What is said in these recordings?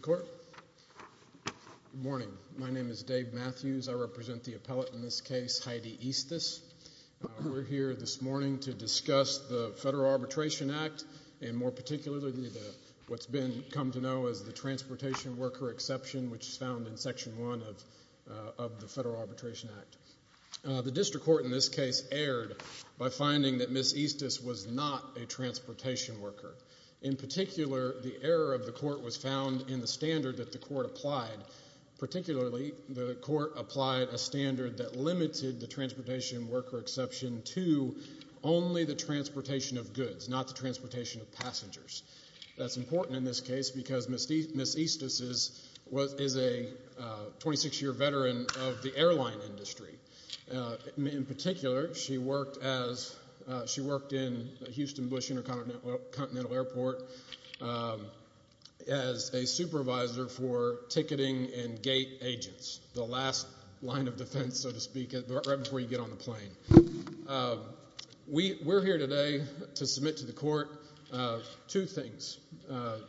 Good morning. My name is Dave Matthews. I represent the appellate in this case, Heidi Eastus. We're here this morning to discuss the Federal Arbitration Act and more particularly what's been come to know as the Transportation Worker Exception, which is found in Section 1 of the Federal Arbitration Act. The district court in this case erred by finding that Ms. Eastus was not a transportation worker. In particular, the error of the court was found in the standard that the court applied. Particularly the court applied a standard that limited the Transportation Worker Exception to only the transportation of goods, not the transportation of passengers. That's important in this case because Ms. Eastus is a 26-year veteran of the airline industry. In particular, she worked in Houston Bush Intercontinental Airport as a supervisor for ticketing and gate agents, the last line of defense, so to speak, right before you get on the plane. We're here today to submit to the court two things,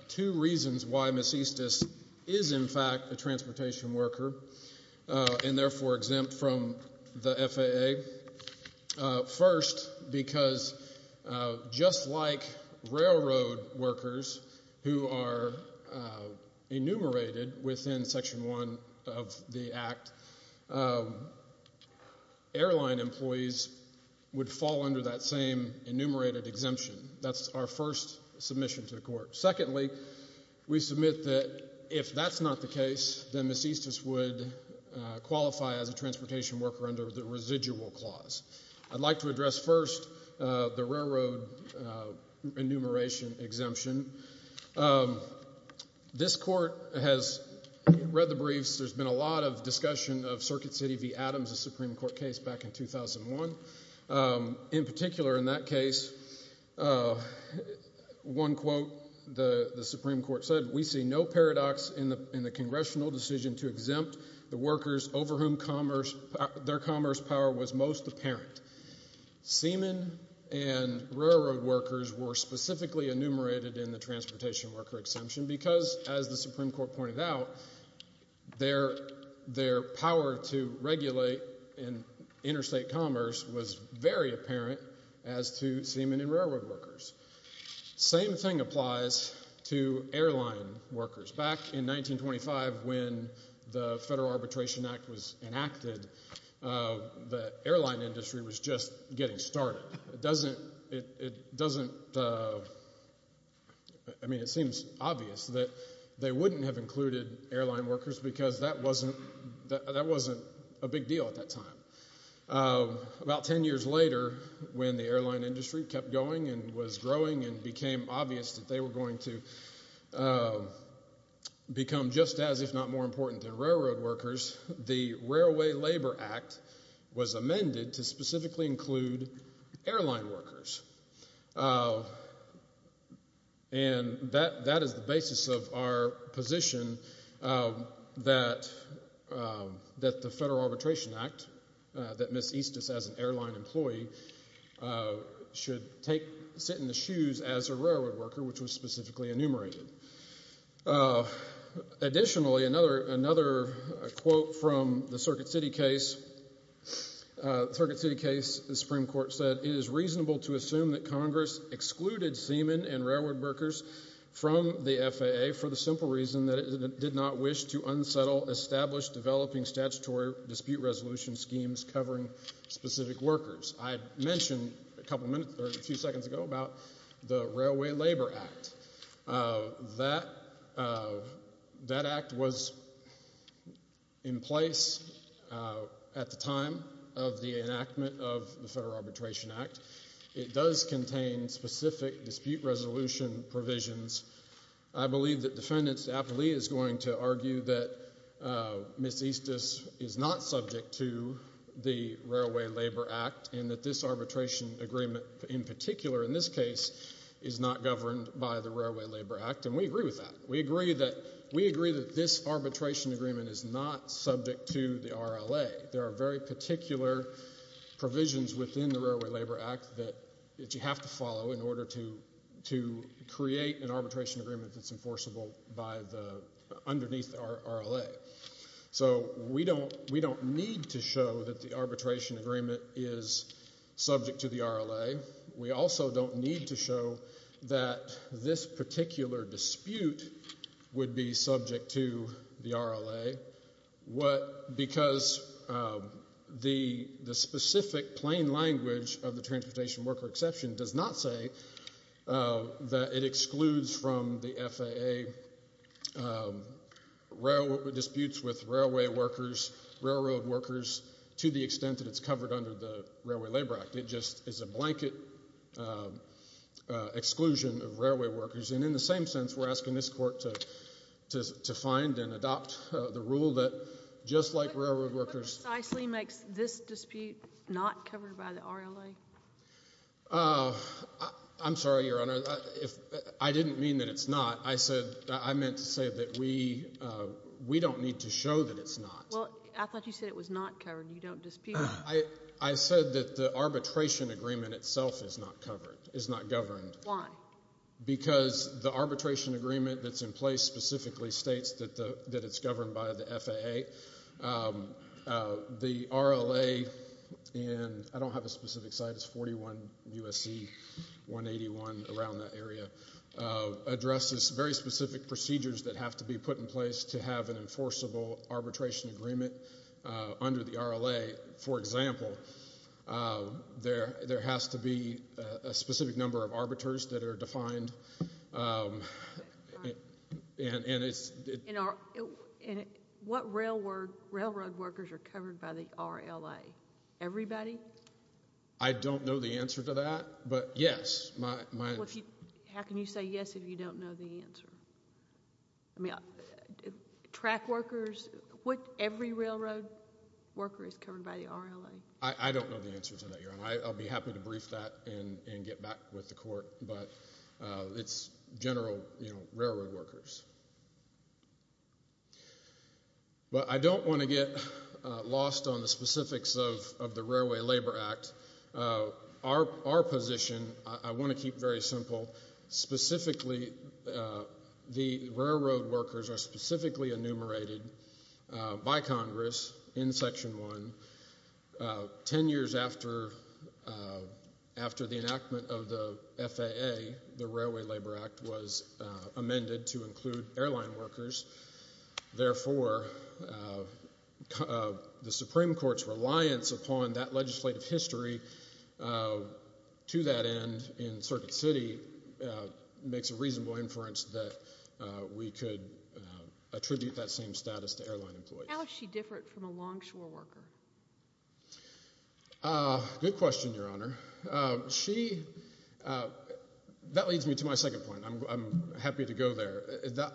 two reasons why Ms. Eastus is in fact a transportation worker and therefore exempt from the FAA. First, because just like railroad workers who are enumerated within Section 1 of the would fall under that same enumerated exemption. That's our first submission to the court. Secondly, we submit that if that's not the case, then Ms. Eastus would qualify as a transportation worker under the residual clause. I'd like to address first the railroad enumeration exemption. This court has read the briefs. There's been a lot of discussion of Circuit City v. Adams, a Supreme Court case back in 2001. In particular, in that case, one quote the Supreme Court said, we see no paradox in the congressional decision to exempt the workers over whom their commerce power was most apparent. Seamen and railroad workers were specifically enumerated in the transportation worker exemption because, as the Supreme Court pointed out, their power to regulate interstate commerce was very apparent as to seamen and railroad workers. Same thing applies to airline workers. Back in 1925 when the Federal Arbitration Act was enacted, the airline industry was just getting started. It seems obvious that they wouldn't have included airline workers because that wasn't a big deal at that time. About ten years later, when the airline industry kept going and was growing and became obvious that they were going to become just as, if not more, important than railroad workers, the Railway Labor Act was amended to specifically include airline workers. And that is the basis of our position that the Federal Arbitration Act, that Ms. Eastus as an airline employee should sit in the shoes as a railroad worker, which was specifically enumerated. Additionally, another quote from the Circuit City case, the Supreme Court said, It is reasonable to assume that Congress excluded seamen and railroad workers from the FAA for the simple reason that it did not wish to unsettle established developing statutory dispute resolution schemes covering specific workers. I mentioned a couple of minutes or a few seconds ago about the Railway Labor Act. That act was in place at the time of the enactment of the Federal Arbitration Act. It does contain specific dispute resolution provisions. I believe that defendants aptly is going to argue that Ms. Eastus is not subject to the Railway Labor Act and that this arbitration agreement in particular in this case is not governed by the Railway Labor Act and we agree with that. We agree that this arbitration agreement is not subject to the RLA. There are very particular provisions within the Railway Labor Act that you have to follow in order to create an arbitration agreement that's enforceable underneath the RLA. So we don't need to show that the arbitration agreement is subject to the RLA. We also don't need to show that this particular dispute would be subject to the RLA because the specific plain language of the Transportation Worker Exception does not say that it excludes from the FAA disputes with railway workers, railroad workers, to the extent that it's covered under the Railway Labor Act. It just is a blanket exclusion of railway workers and in the same sense, we're asking this court to find and adopt the rule that just like railroad workers... What precisely makes this dispute not covered by the RLA? I'm sorry, Your Honor. I didn't mean that it's not. I said, I meant to say that we don't need to show that it's not. Well, I thought you said it was not covered, you don't dispute it. I said that the arbitration agreement itself is not covered, is not governed. Why? Because the arbitration agreement that's in place specifically states that it's governed by the FAA. The RLA, and I don't have a specific site, it's 41 U.S.C. 181, around that area, addresses very specific procedures that have to be put in place to have an enforceable arbitration agreement under the RLA. For example, there has to be a specific number of arbiters that are defined and it's... And what railroad workers are covered by the RLA, everybody? I don't know the answer to that, but yes, my... How can you say yes if you don't know the answer? Track workers, what every railroad worker is covered by the RLA? I don't know the answer to that, Your Honor. I'll be happy to brief that and get back with the court, but it's general railroad workers. But I don't want to get lost on the specifics of the Railway Labor Act. Our position, I want to keep very simple, specifically, the railroad workers are specifically enumerated by Congress in Section 1, 10 years after the enactment of the FAA, the Railway Labor Act. They include airline workers, therefore, the Supreme Court's reliance upon that legislative history to that end in Circuit City makes a reasonable inference that we could attribute that same status to airline employees. How is she different from a longshore worker? Good question, Your Honor. That leads me to my second point. I'm happy to go there.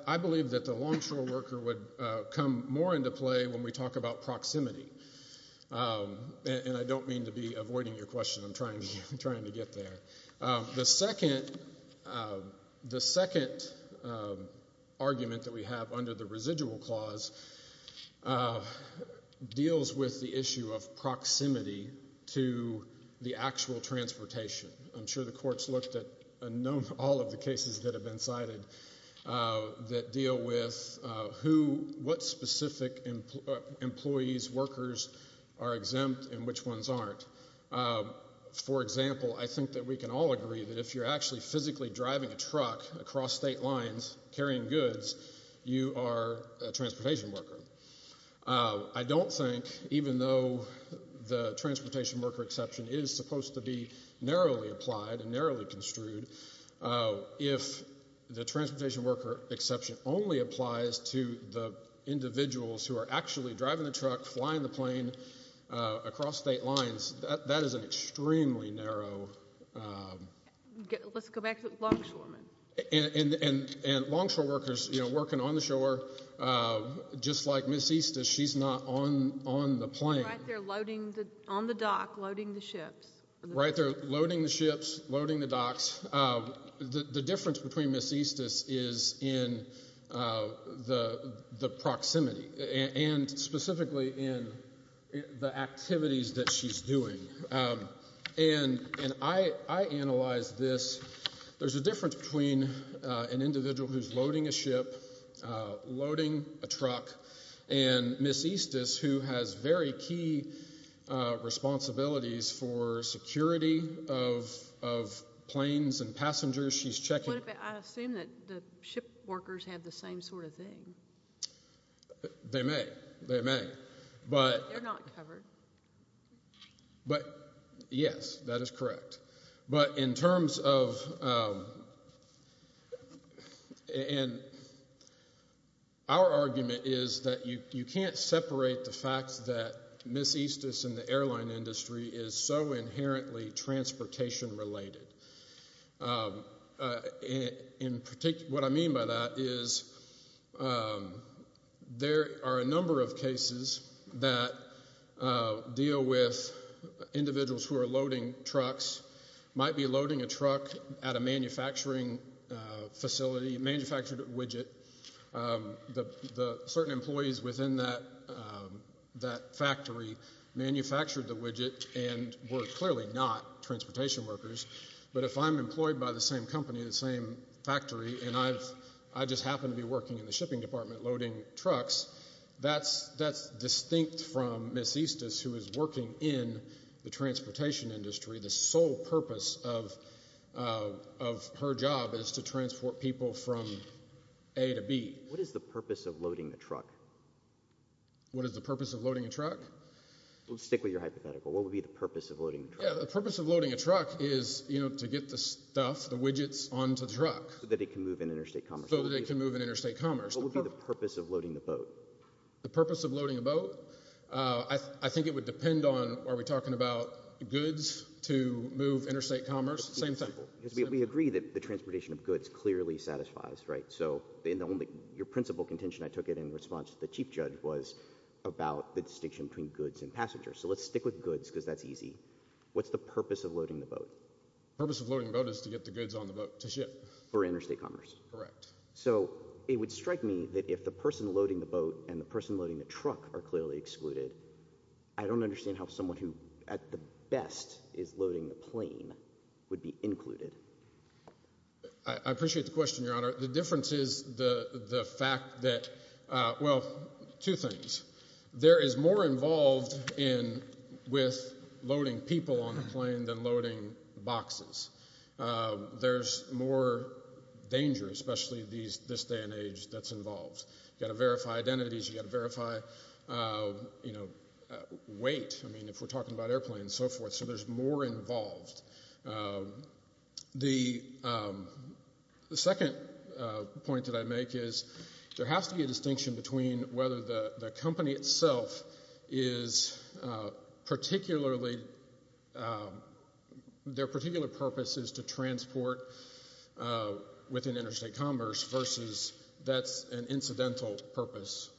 I believe that the longshore worker would come more into play when we talk about proximity. And I don't mean to be avoiding your question. I'm trying to get there. The second argument that we have under the residual clause deals with the issue of proximity to the actual transportation. I'm sure the Court's looked at all of the cases that have been cited that deal with what specific employees, workers are exempt and which ones aren't. For example, I think that we can all agree that if you're actually physically driving a truck across state lines carrying goods, you are a transportation worker. I don't think, even though the transportation worker exception is supposed to be narrowly applied and narrowly construed, if the transportation worker exception only applies to the individuals who are actually driving the truck, flying the plane across state lines, that is an extremely narrow... Let's go back to longshoremen. And longshore workers working on the shore, just like Ms. Eastus, she's not on the plane. Right, they're loading, on the dock, loading the ships. Right, they're loading the ships, loading the docks. The difference between Ms. Eastus is in the proximity, and specifically in the activities that she's doing. And I analyzed this. There's a difference between an individual who's loading a ship, loading a truck, and Ms. Eastus, who has very key responsibilities for security of planes and passengers. She's checking... What if I assume that the ship workers have the same sort of thing? They may. They may. They're not covered. But, yes, that is correct. But in terms of... Our argument is that you can't separate the fact that Ms. Eastus and the airline industry is so inherently transportation-related. What I mean by that is there are a number of cases that deal with individuals who are loading trucks, might be loading a truck at a manufacturing facility, manufactured widget. The certain employees within that factory manufactured the widget and were clearly not transportation workers. But if I'm employed by the same company, the same factory, and I just happen to be working in the shipping department loading trucks, that's distinct from Ms. Eastus, who is working in the transportation industry. The sole purpose of her job is to transport people from A to B. What is the purpose of loading a truck? What is the purpose of loading a truck? We'll stick with your hypothetical. What would be the purpose of loading a truck? Yeah, the purpose of loading a truck is, you know, to get the stuff, the widgets, onto the truck. So that it can move in interstate commerce. So that it can move in interstate commerce. What would be the purpose of loading the boat? The purpose of loading a boat? I think it would depend on, are we talking about goods to move interstate commerce? Same thing. Because we agree that the transportation of goods clearly satisfies, right? So your principal contention, I took it in response to the chief judge, was about the distinction between goods and passengers. So let's stick with goods, because that's easy. What's the purpose of loading the boat? Purpose of loading the boat is to get the goods on the boat to ship. For interstate commerce. Correct. So it would strike me that if the person loading the boat and the person loading the truck are clearly excluded, I don't understand how someone who, at the best, is loading the plane would be included. I appreciate the question, Your Honor. The difference is the fact that, well, two things. There is more involved with loading people on the plane than loading boxes. There's more danger, especially this day and age, that's involved. You've got to verify identities, you've got to verify, you know, weight, I mean, if we're talking about airplanes and so forth. So there's more involved. The second point that I make is there has to be a distinction between whether the company itself is particularly, their particular purpose is to transport within interstate commerce versus that's an incidental purpose.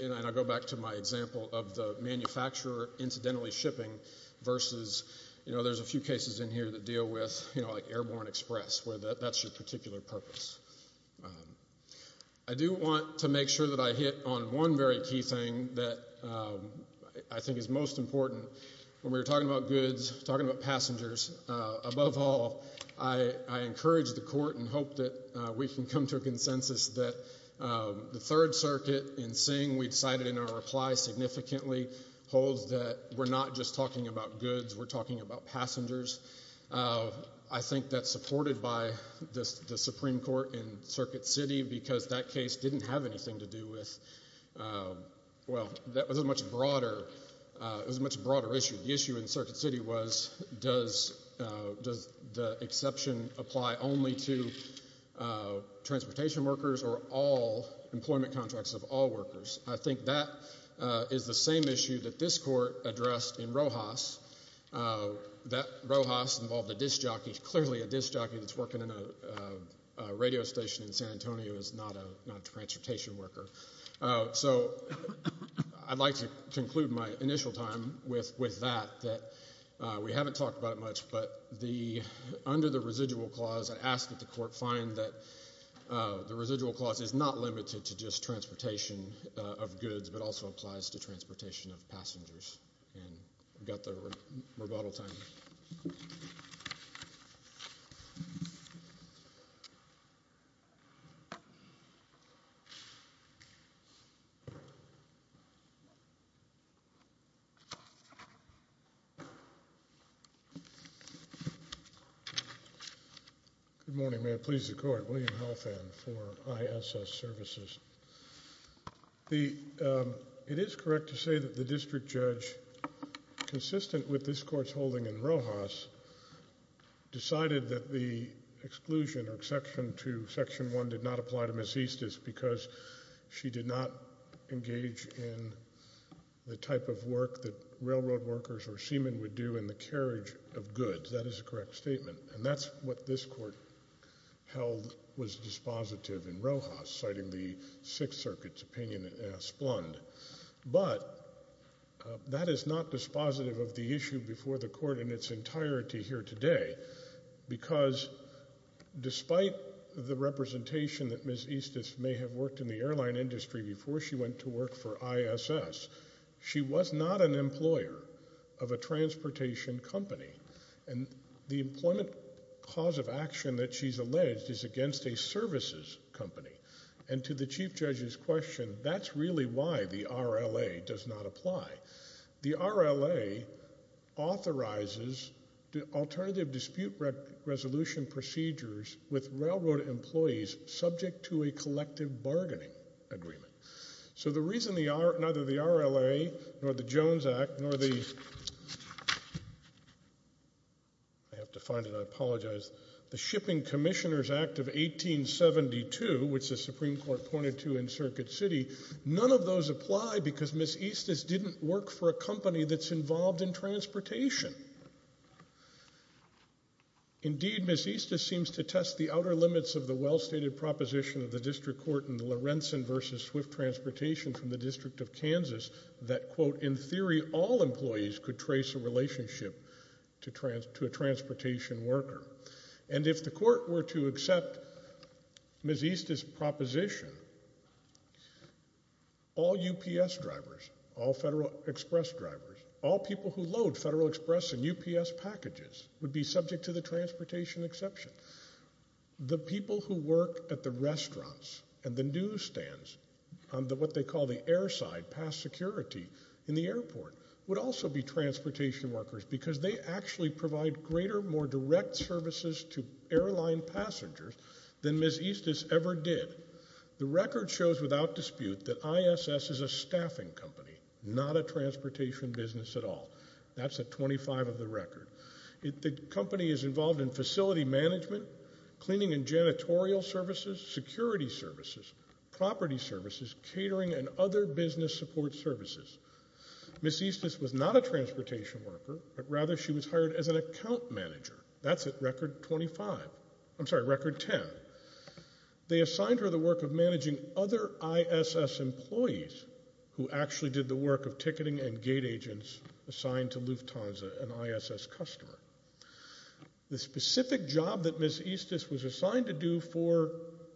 And I go back to my example of the manufacturer incidentally shipping versus, you know, there's a few cases in here that deal with, you know, like Airborne Express, where that's your particular purpose. I do want to make sure that I hit on one very key thing that I think is most important. When we were talking about goods, talking about passengers, above all, I encourage the court and hope that we can come to a consensus that the Third Circuit, in seeing we decided in our reply significantly, holds that we're not just talking about goods, we're talking about passengers. I think that's supported by the Supreme Court in Circuit City because that case didn't have anything to do with, well, that was a much broader, it was a much broader issue. The issue in Circuit City was does the exception apply only to transportation workers or all employment contracts of all workers? I think that is the same issue that this court addressed in Rojas. That Rojas involved a disc jockey, clearly a disc jockey that's working in a radio station in San Antonio is not a transportation worker. So I'd like to conclude my initial time with that, that we haven't talked about it much, but under the residual clause, I ask that the court find that the residual clause is not limited to just transportation of goods, but also applies to transportation of passengers. And we've got the rebuttal time. Good morning, may it please the court, William Halfand for ISS Services. The, it is correct to say that the district judge, consistent with this court's holding in Rojas, decided that the exclusion or exception to Section 1 did not apply to Ms. Eastis because she did not engage in the type of work that railroad workers or seamen would do in the carriage of goods. That is a correct statement. And that's what this court held was dispositive in Rojas, citing the Sixth Circuit's opinion in Asplund. But that is not dispositive of the issue before the court in its entirety here today, because despite the representation that Ms. Eastis may have worked in the airline industry before she went to work for ISS, she was not an employer of a transportation company. And the employment cause of action that she's alleged is against a services company. And to the Chief Judge's question, that's really why the RLA does not apply. The RLA authorizes alternative dispute resolution procedures with railroad employees subject to a collective bargaining agreement. So the reason neither the RLA, nor the Jones Act, nor the Shipping Commissioners Act of 1872, which the Supreme Court pointed to in Circuit City, none of those apply because Ms. Eastis didn't work for a company that's involved in transportation. Indeed, Ms. Eastis seems to test the outer limits of the well-stated proposition of the Department of Transportation from the District of Kansas that, quote, in theory, all employees could trace a relationship to a transportation worker. And if the court were to accept Ms. Eastis' proposition, all UPS drivers, all Federal Express drivers, all people who load Federal Express and UPS packages would be subject to the transportation exception. The people who work at the restaurants and the newsstands on what they call the airside, past security in the airport, would also be transportation workers because they actually provide greater, more direct services to airline passengers than Ms. Eastis ever did. The record shows without dispute that ISS is a staffing company, not a transportation business at all. That's at 25 of the record. The company is involved in facility management, cleaning and janitorial services, security services, property services, catering, and other business support services. Ms. Eastis was not a transportation worker, but rather she was hired as an account manager. That's at record 25, I'm sorry, record 10. They assigned her the work of managing other ISS employees who actually did the work of the customer. The specific job that Ms. Eastis was assigned to do for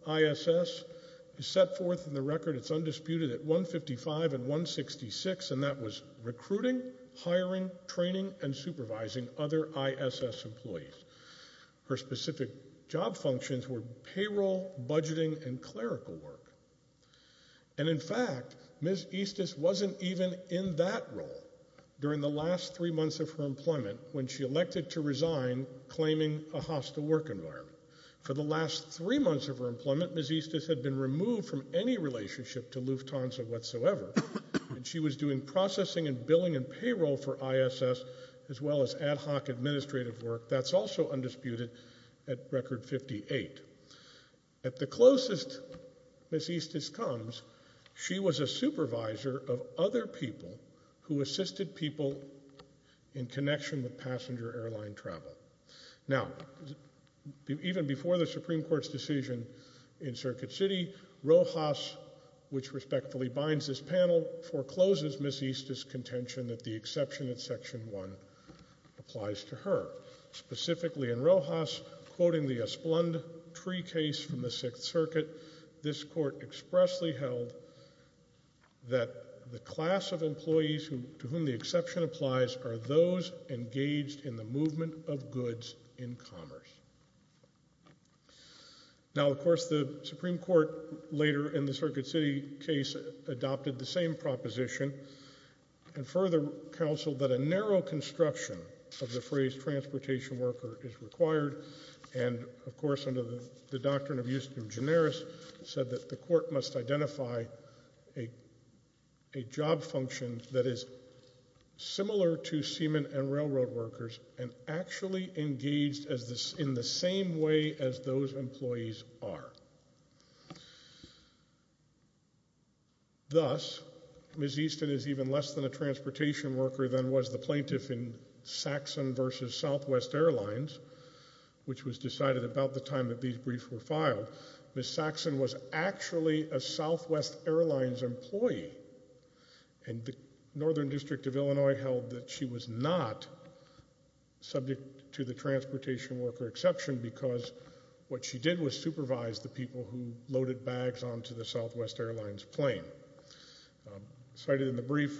ISS is set forth in the record, it's undisputed, at 155 and 166, and that was recruiting, hiring, training, and supervising other ISS employees. Her specific job functions were payroll, budgeting, and clerical work. And in fact, Ms. Eastis wasn't even in that role during the last three months of her employment when she elected to resign, claiming a hostile work environment. For the last three months of her employment, Ms. Eastis had been removed from any relationship to Lufthansa whatsoever, and she was doing processing and billing and payroll for ISS as well as ad hoc administrative work. That's also undisputed at record 58. At the closest Ms. Eastis comes, she was a supervisor of other people who assisted people in connection with passenger airline travel. Now, even before the Supreme Court's decision in Circuit City, Rojas, which respectfully binds this panel, forecloses Ms. Eastis' contention that the exception in Section 1 applies to her. Specifically in Rojas, quoting the Esplande tree case from the Sixth Circuit, this court applies, are those engaged in the movement of goods in commerce. Now, of course, the Supreme Court later in the Circuit City case adopted the same proposition and further counseled that a narrow construction of the phrase transportation worker is required, and of course, under the doctrine of Eustimus Generis, said that the court must identify a job function that is similar to seaman and railroad workers and actually engaged in the same way as those employees are. Thus, Ms. Eastin is even less than a transportation worker than was the plaintiff in Saxon versus Southwest Airlines, which was decided about the time that these briefs were filed. Ms. Saxon was actually a Southwest Airlines employee, and the Northern District of Illinois held that she was not subject to the transportation worker exception because what she did was supervise the people who loaded bags onto the Southwest Airlines plane. Cited in the brief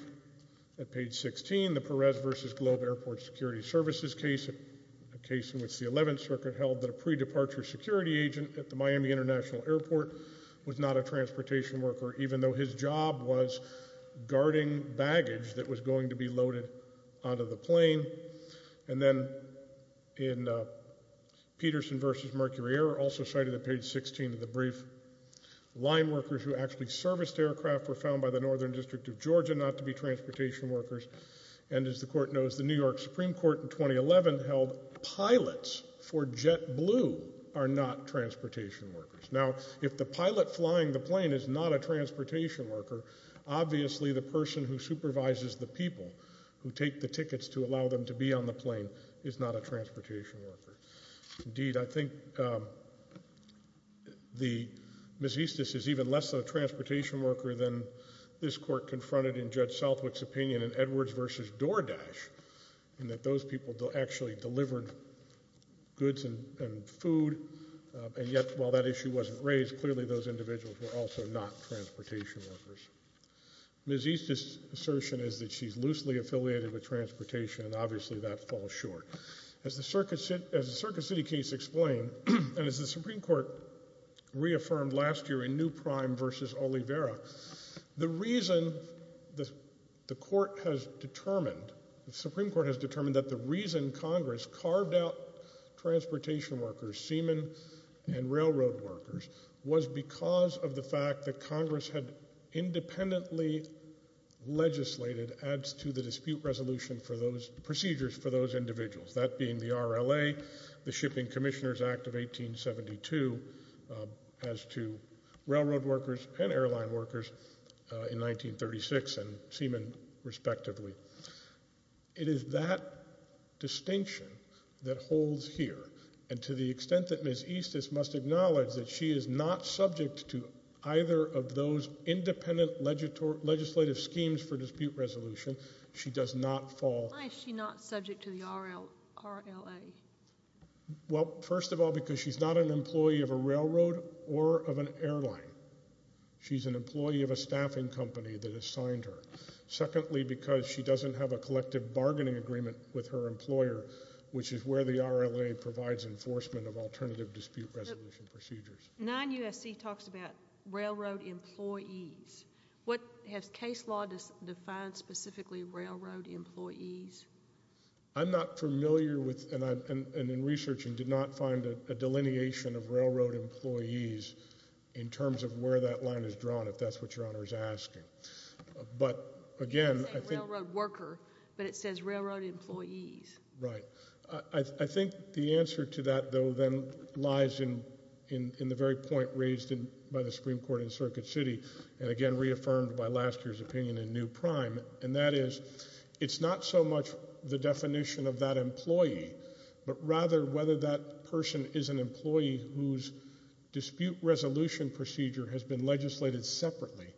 at page 16, the Perez versus Globe Airport Security Services case, a case in which the 11th Circuit held that a pre-departure security agent at the Miami International Airport was not a transportation worker, even though his job was guarding baggage that was going to be loaded onto the plane. And then in Peterson versus Mercury Air, also cited at page 16 of the brief, line workers who actually serviced aircraft were found by the Northern District of Georgia not to be transportation workers. And as the Court knows, the New York Supreme Court in 2011 held pilots for JetBlue are not transportation workers. Now, if the pilot flying the plane is not a transportation worker, obviously the person who supervises the people who take the tickets to allow them to be on the plane is not a transportation worker. Indeed, I think Ms. Eastin is even less than a transportation worker than this Court confronted in Judge Southwick's opinion in Edwards versus DoorDash, in that those people actually delivered goods and food, and yet while that issue wasn't raised, clearly those individuals were also not transportation workers. Ms. Eastin's assertion is that she's loosely affiliated with transportation, and obviously that falls short. As the Circuit City case explained, and as the Supreme Court reaffirmed last year in New Prime versus Oliveira, the reason the Supreme Court has determined that the reason Congress carved out transportation workers, seamen and railroad workers, was because of the fact that Congress had independently legislated as to the dispute resolution for those procedures for those individuals, that being the RLA, the Shipping Commissioners Act of 1872, as to railroad workers and airline workers in 1936 and seamen, respectively. It is that distinction that holds here, and to the extent that Ms. Eastin must acknowledge that she is not subject to either of those independent legislative schemes for dispute resolution, she does not fall... Why is she not subject to the RLA? Well, first of all, because she's not an employee of a railroad or of an airline. She's an employee of a staffing company that assigned her. Secondly, because she doesn't have a collective bargaining agreement with her employer, which is where the RLA provides enforcement of alternative dispute resolution procedures. 9 U.S.C. talks about railroad employees. What has case law defined specifically railroad employees? I'm not familiar with, and in researching, did not find a delineation of railroad employees in terms of where that line is drawn, if that's what Your Honor is asking. But again... It doesn't say railroad worker, but it says railroad employees. Right. I think the answer to that, though, then lies in the very point raised by the Supreme Court in Circuit City, and again reaffirmed by last year's opinion in New Prime, and that is, it's not so much the definition of that employee, but rather whether that person is an employee whose dispute resolution procedure has been legislated separately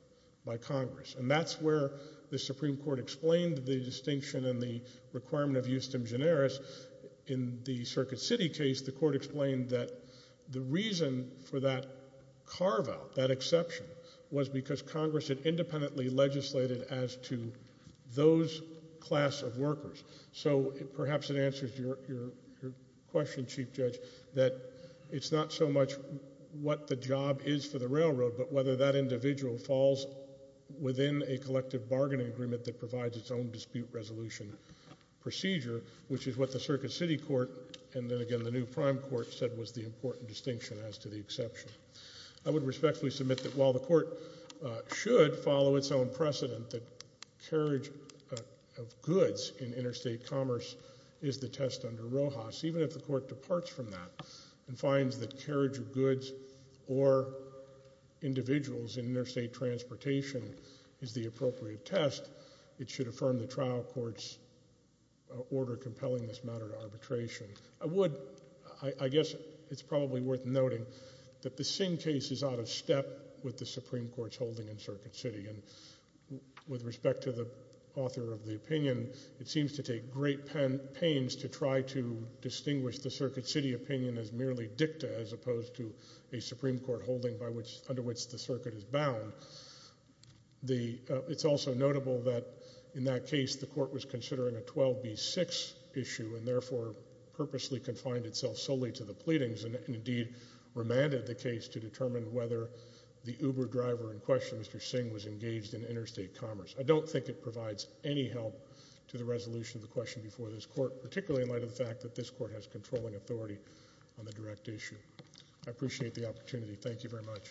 by Congress, and that's where the Supreme Court explained the distinction and the requirement of justum generis. In the Circuit City case, the Court explained that the reason for that carve-out, that exception, was because Congress had independently legislated as to those class of workers. So perhaps it answers your question, Chief Judge, that it's not so much what the job is for the railroad, but whether that individual falls within a collective bargaining agreement that provides its own dispute resolution procedure, which is what the Circuit City Court, and then again the New Prime Court, said was the important distinction as to the exception. I would respectfully submit that while the Court should follow its own precedent that carriage of goods in interstate commerce is the test under Rojas, even if the Court departs from that and finds that carriage of goods or individuals in interstate transportation is the appropriate test, it should affirm the trial court's order compelling this matter to arbitration. I would, I guess it's probably worth noting that the Singh case is out of step with the Supreme Court's holding in Circuit City, and with respect to the author of the opinion, it seems to take great pains to try to distinguish the Circuit City opinion as merely dicta as opposed to a Supreme Court holding by which, under which the circuit is bound. It's also notable that in that case the Court was considering a 12B6 issue, and therefore purposely confined itself solely to the pleadings, and indeed remanded the case to determine whether the Uber driver in question, Mr. Singh, was engaged in interstate commerce. I don't think it provides any help to the resolution of the question before this Court, particularly in light of the fact that this Court has controlling authority on the direct issue. I appreciate the opportunity. Thank you very much.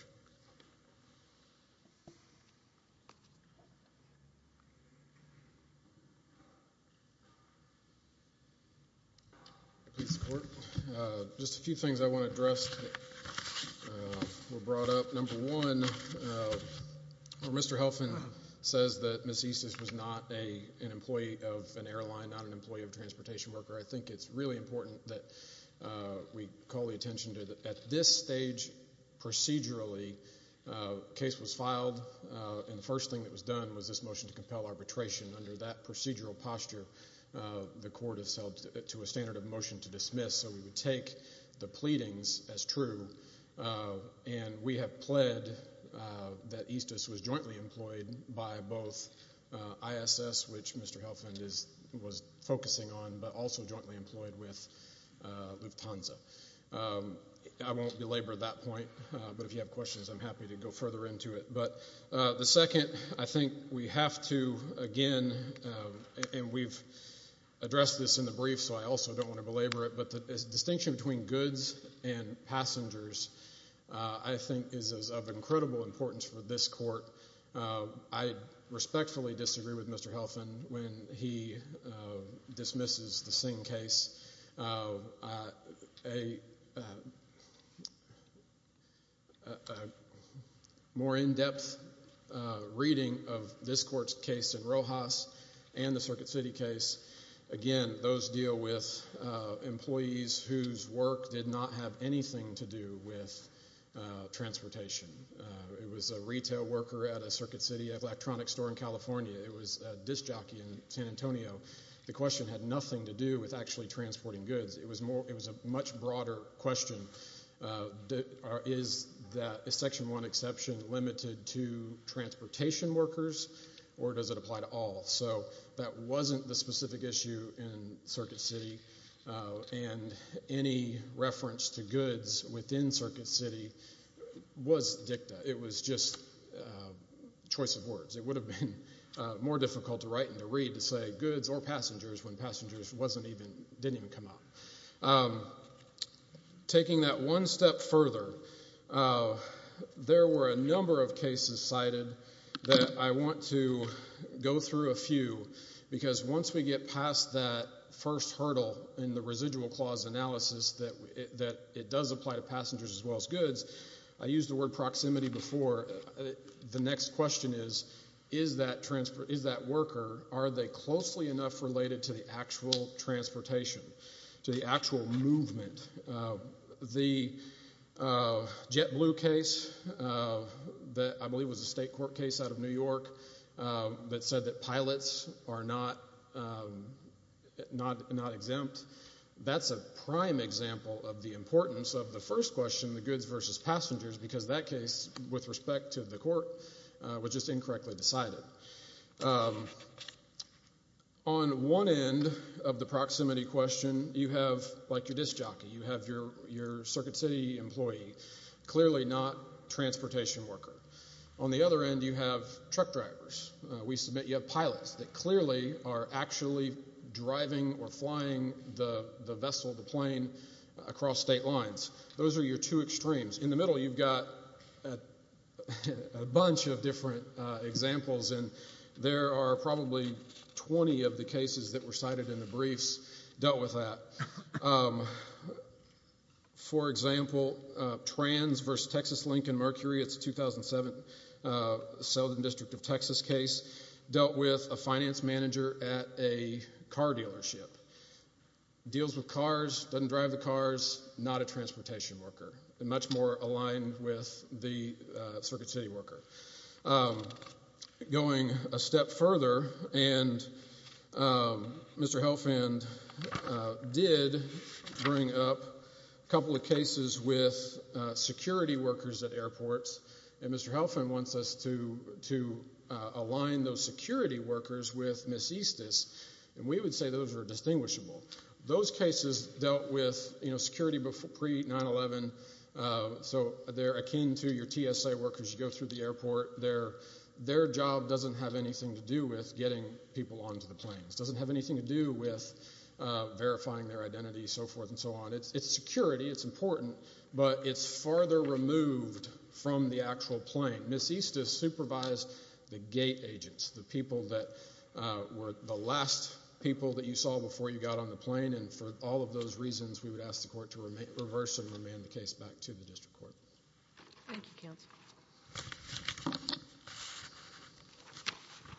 Please support. Just a few things I want to address that were brought up. Number one, Mr. Helfand says that Ms. Isis was not an employee of an airline, not an employee of a transportation worker. I think it's really important that we call the attention to that at this stage, procedurally, the case was filed, and the first thing that was done was this motion to compel arbitration. Under that procedural posture, the Court has held it to a standard of motion to dismiss, so we would take the pleadings as true, and we have pled that Isis was jointly employed by both ISS, which Mr. Helfand was focusing on, but also jointly employed with Lufthansa. I won't belabor that point, but if you have questions, I'm happy to go further into it. But the second, I think we have to, again, and we've addressed this in the brief, so I also don't want to belabor it, but the distinction between goods and passengers I think is of I respectfully disagree with Mr. Helfand when he dismisses the Singh case. A more in-depth reading of this Court's case in Rojas and the Circuit City case, again, those deal with employees whose work did not have anything to do with transportation. It was a retail worker at a Circuit City electronics store in California. It was a disc jockey in San Antonio. The question had nothing to do with actually transporting goods. It was a much broader question. Is that Section 1 exception limited to transportation workers, or does it apply to all? So that wasn't the specific issue in Circuit City, and any reference to goods within Circuit City was dicta. It was just choice of words. It would have been more difficult to write and to read to say goods or passengers when passengers didn't even come up. Taking that one step further, there were a number of cases cited that I want to go through a few because once we get past that first hurdle in the residual clause analysis that it does apply to passengers as well as goods, I used the word proximity before. The next question is, is that worker, are they closely enough related to the actual transportation, to the actual movement? The JetBlue case that I believe was a state court case out of New York that said that question, the goods versus passengers, because that case, with respect to the court, was just incorrectly decided. On one end of the proximity question, you have, like your disc jockey, you have your Circuit City employee, clearly not a transportation worker. On the other end, you have truck drivers. We submit you have pilots that clearly are actually driving or flying the vessel, the airlines. Those are your two extremes. In the middle, you've got a bunch of different examples, and there are probably 20 of the cases that were cited in the briefs dealt with that. For example, Trans versus Texas Lincoln Mercury, it's a 2007 Southern District of Texas case, dealt with a finance manager at a car dealership. Deals with cars, doesn't drive the cars, not a transportation worker, and much more aligned with the Circuit City worker. Going a step further, and Mr. Helfand did bring up a couple of cases with security workers at airports, and Mr. Helfand wants us to align those security workers with Miss Estes, and we would say those are distinguishable. Those cases dealt with security pre-9-11, so they're akin to your TSA workers, you go through the airport. Their job doesn't have anything to do with getting people onto the planes, doesn't have anything to do with verifying their identity, so forth and so on. It's security, it's important, but it's farther removed from the actual plane. Miss Estes supervised the gate agents, the people that were the last people that you saw before you got on the plane, and for all of those reasons, we would ask the court to reverse and remand the case back to the district court.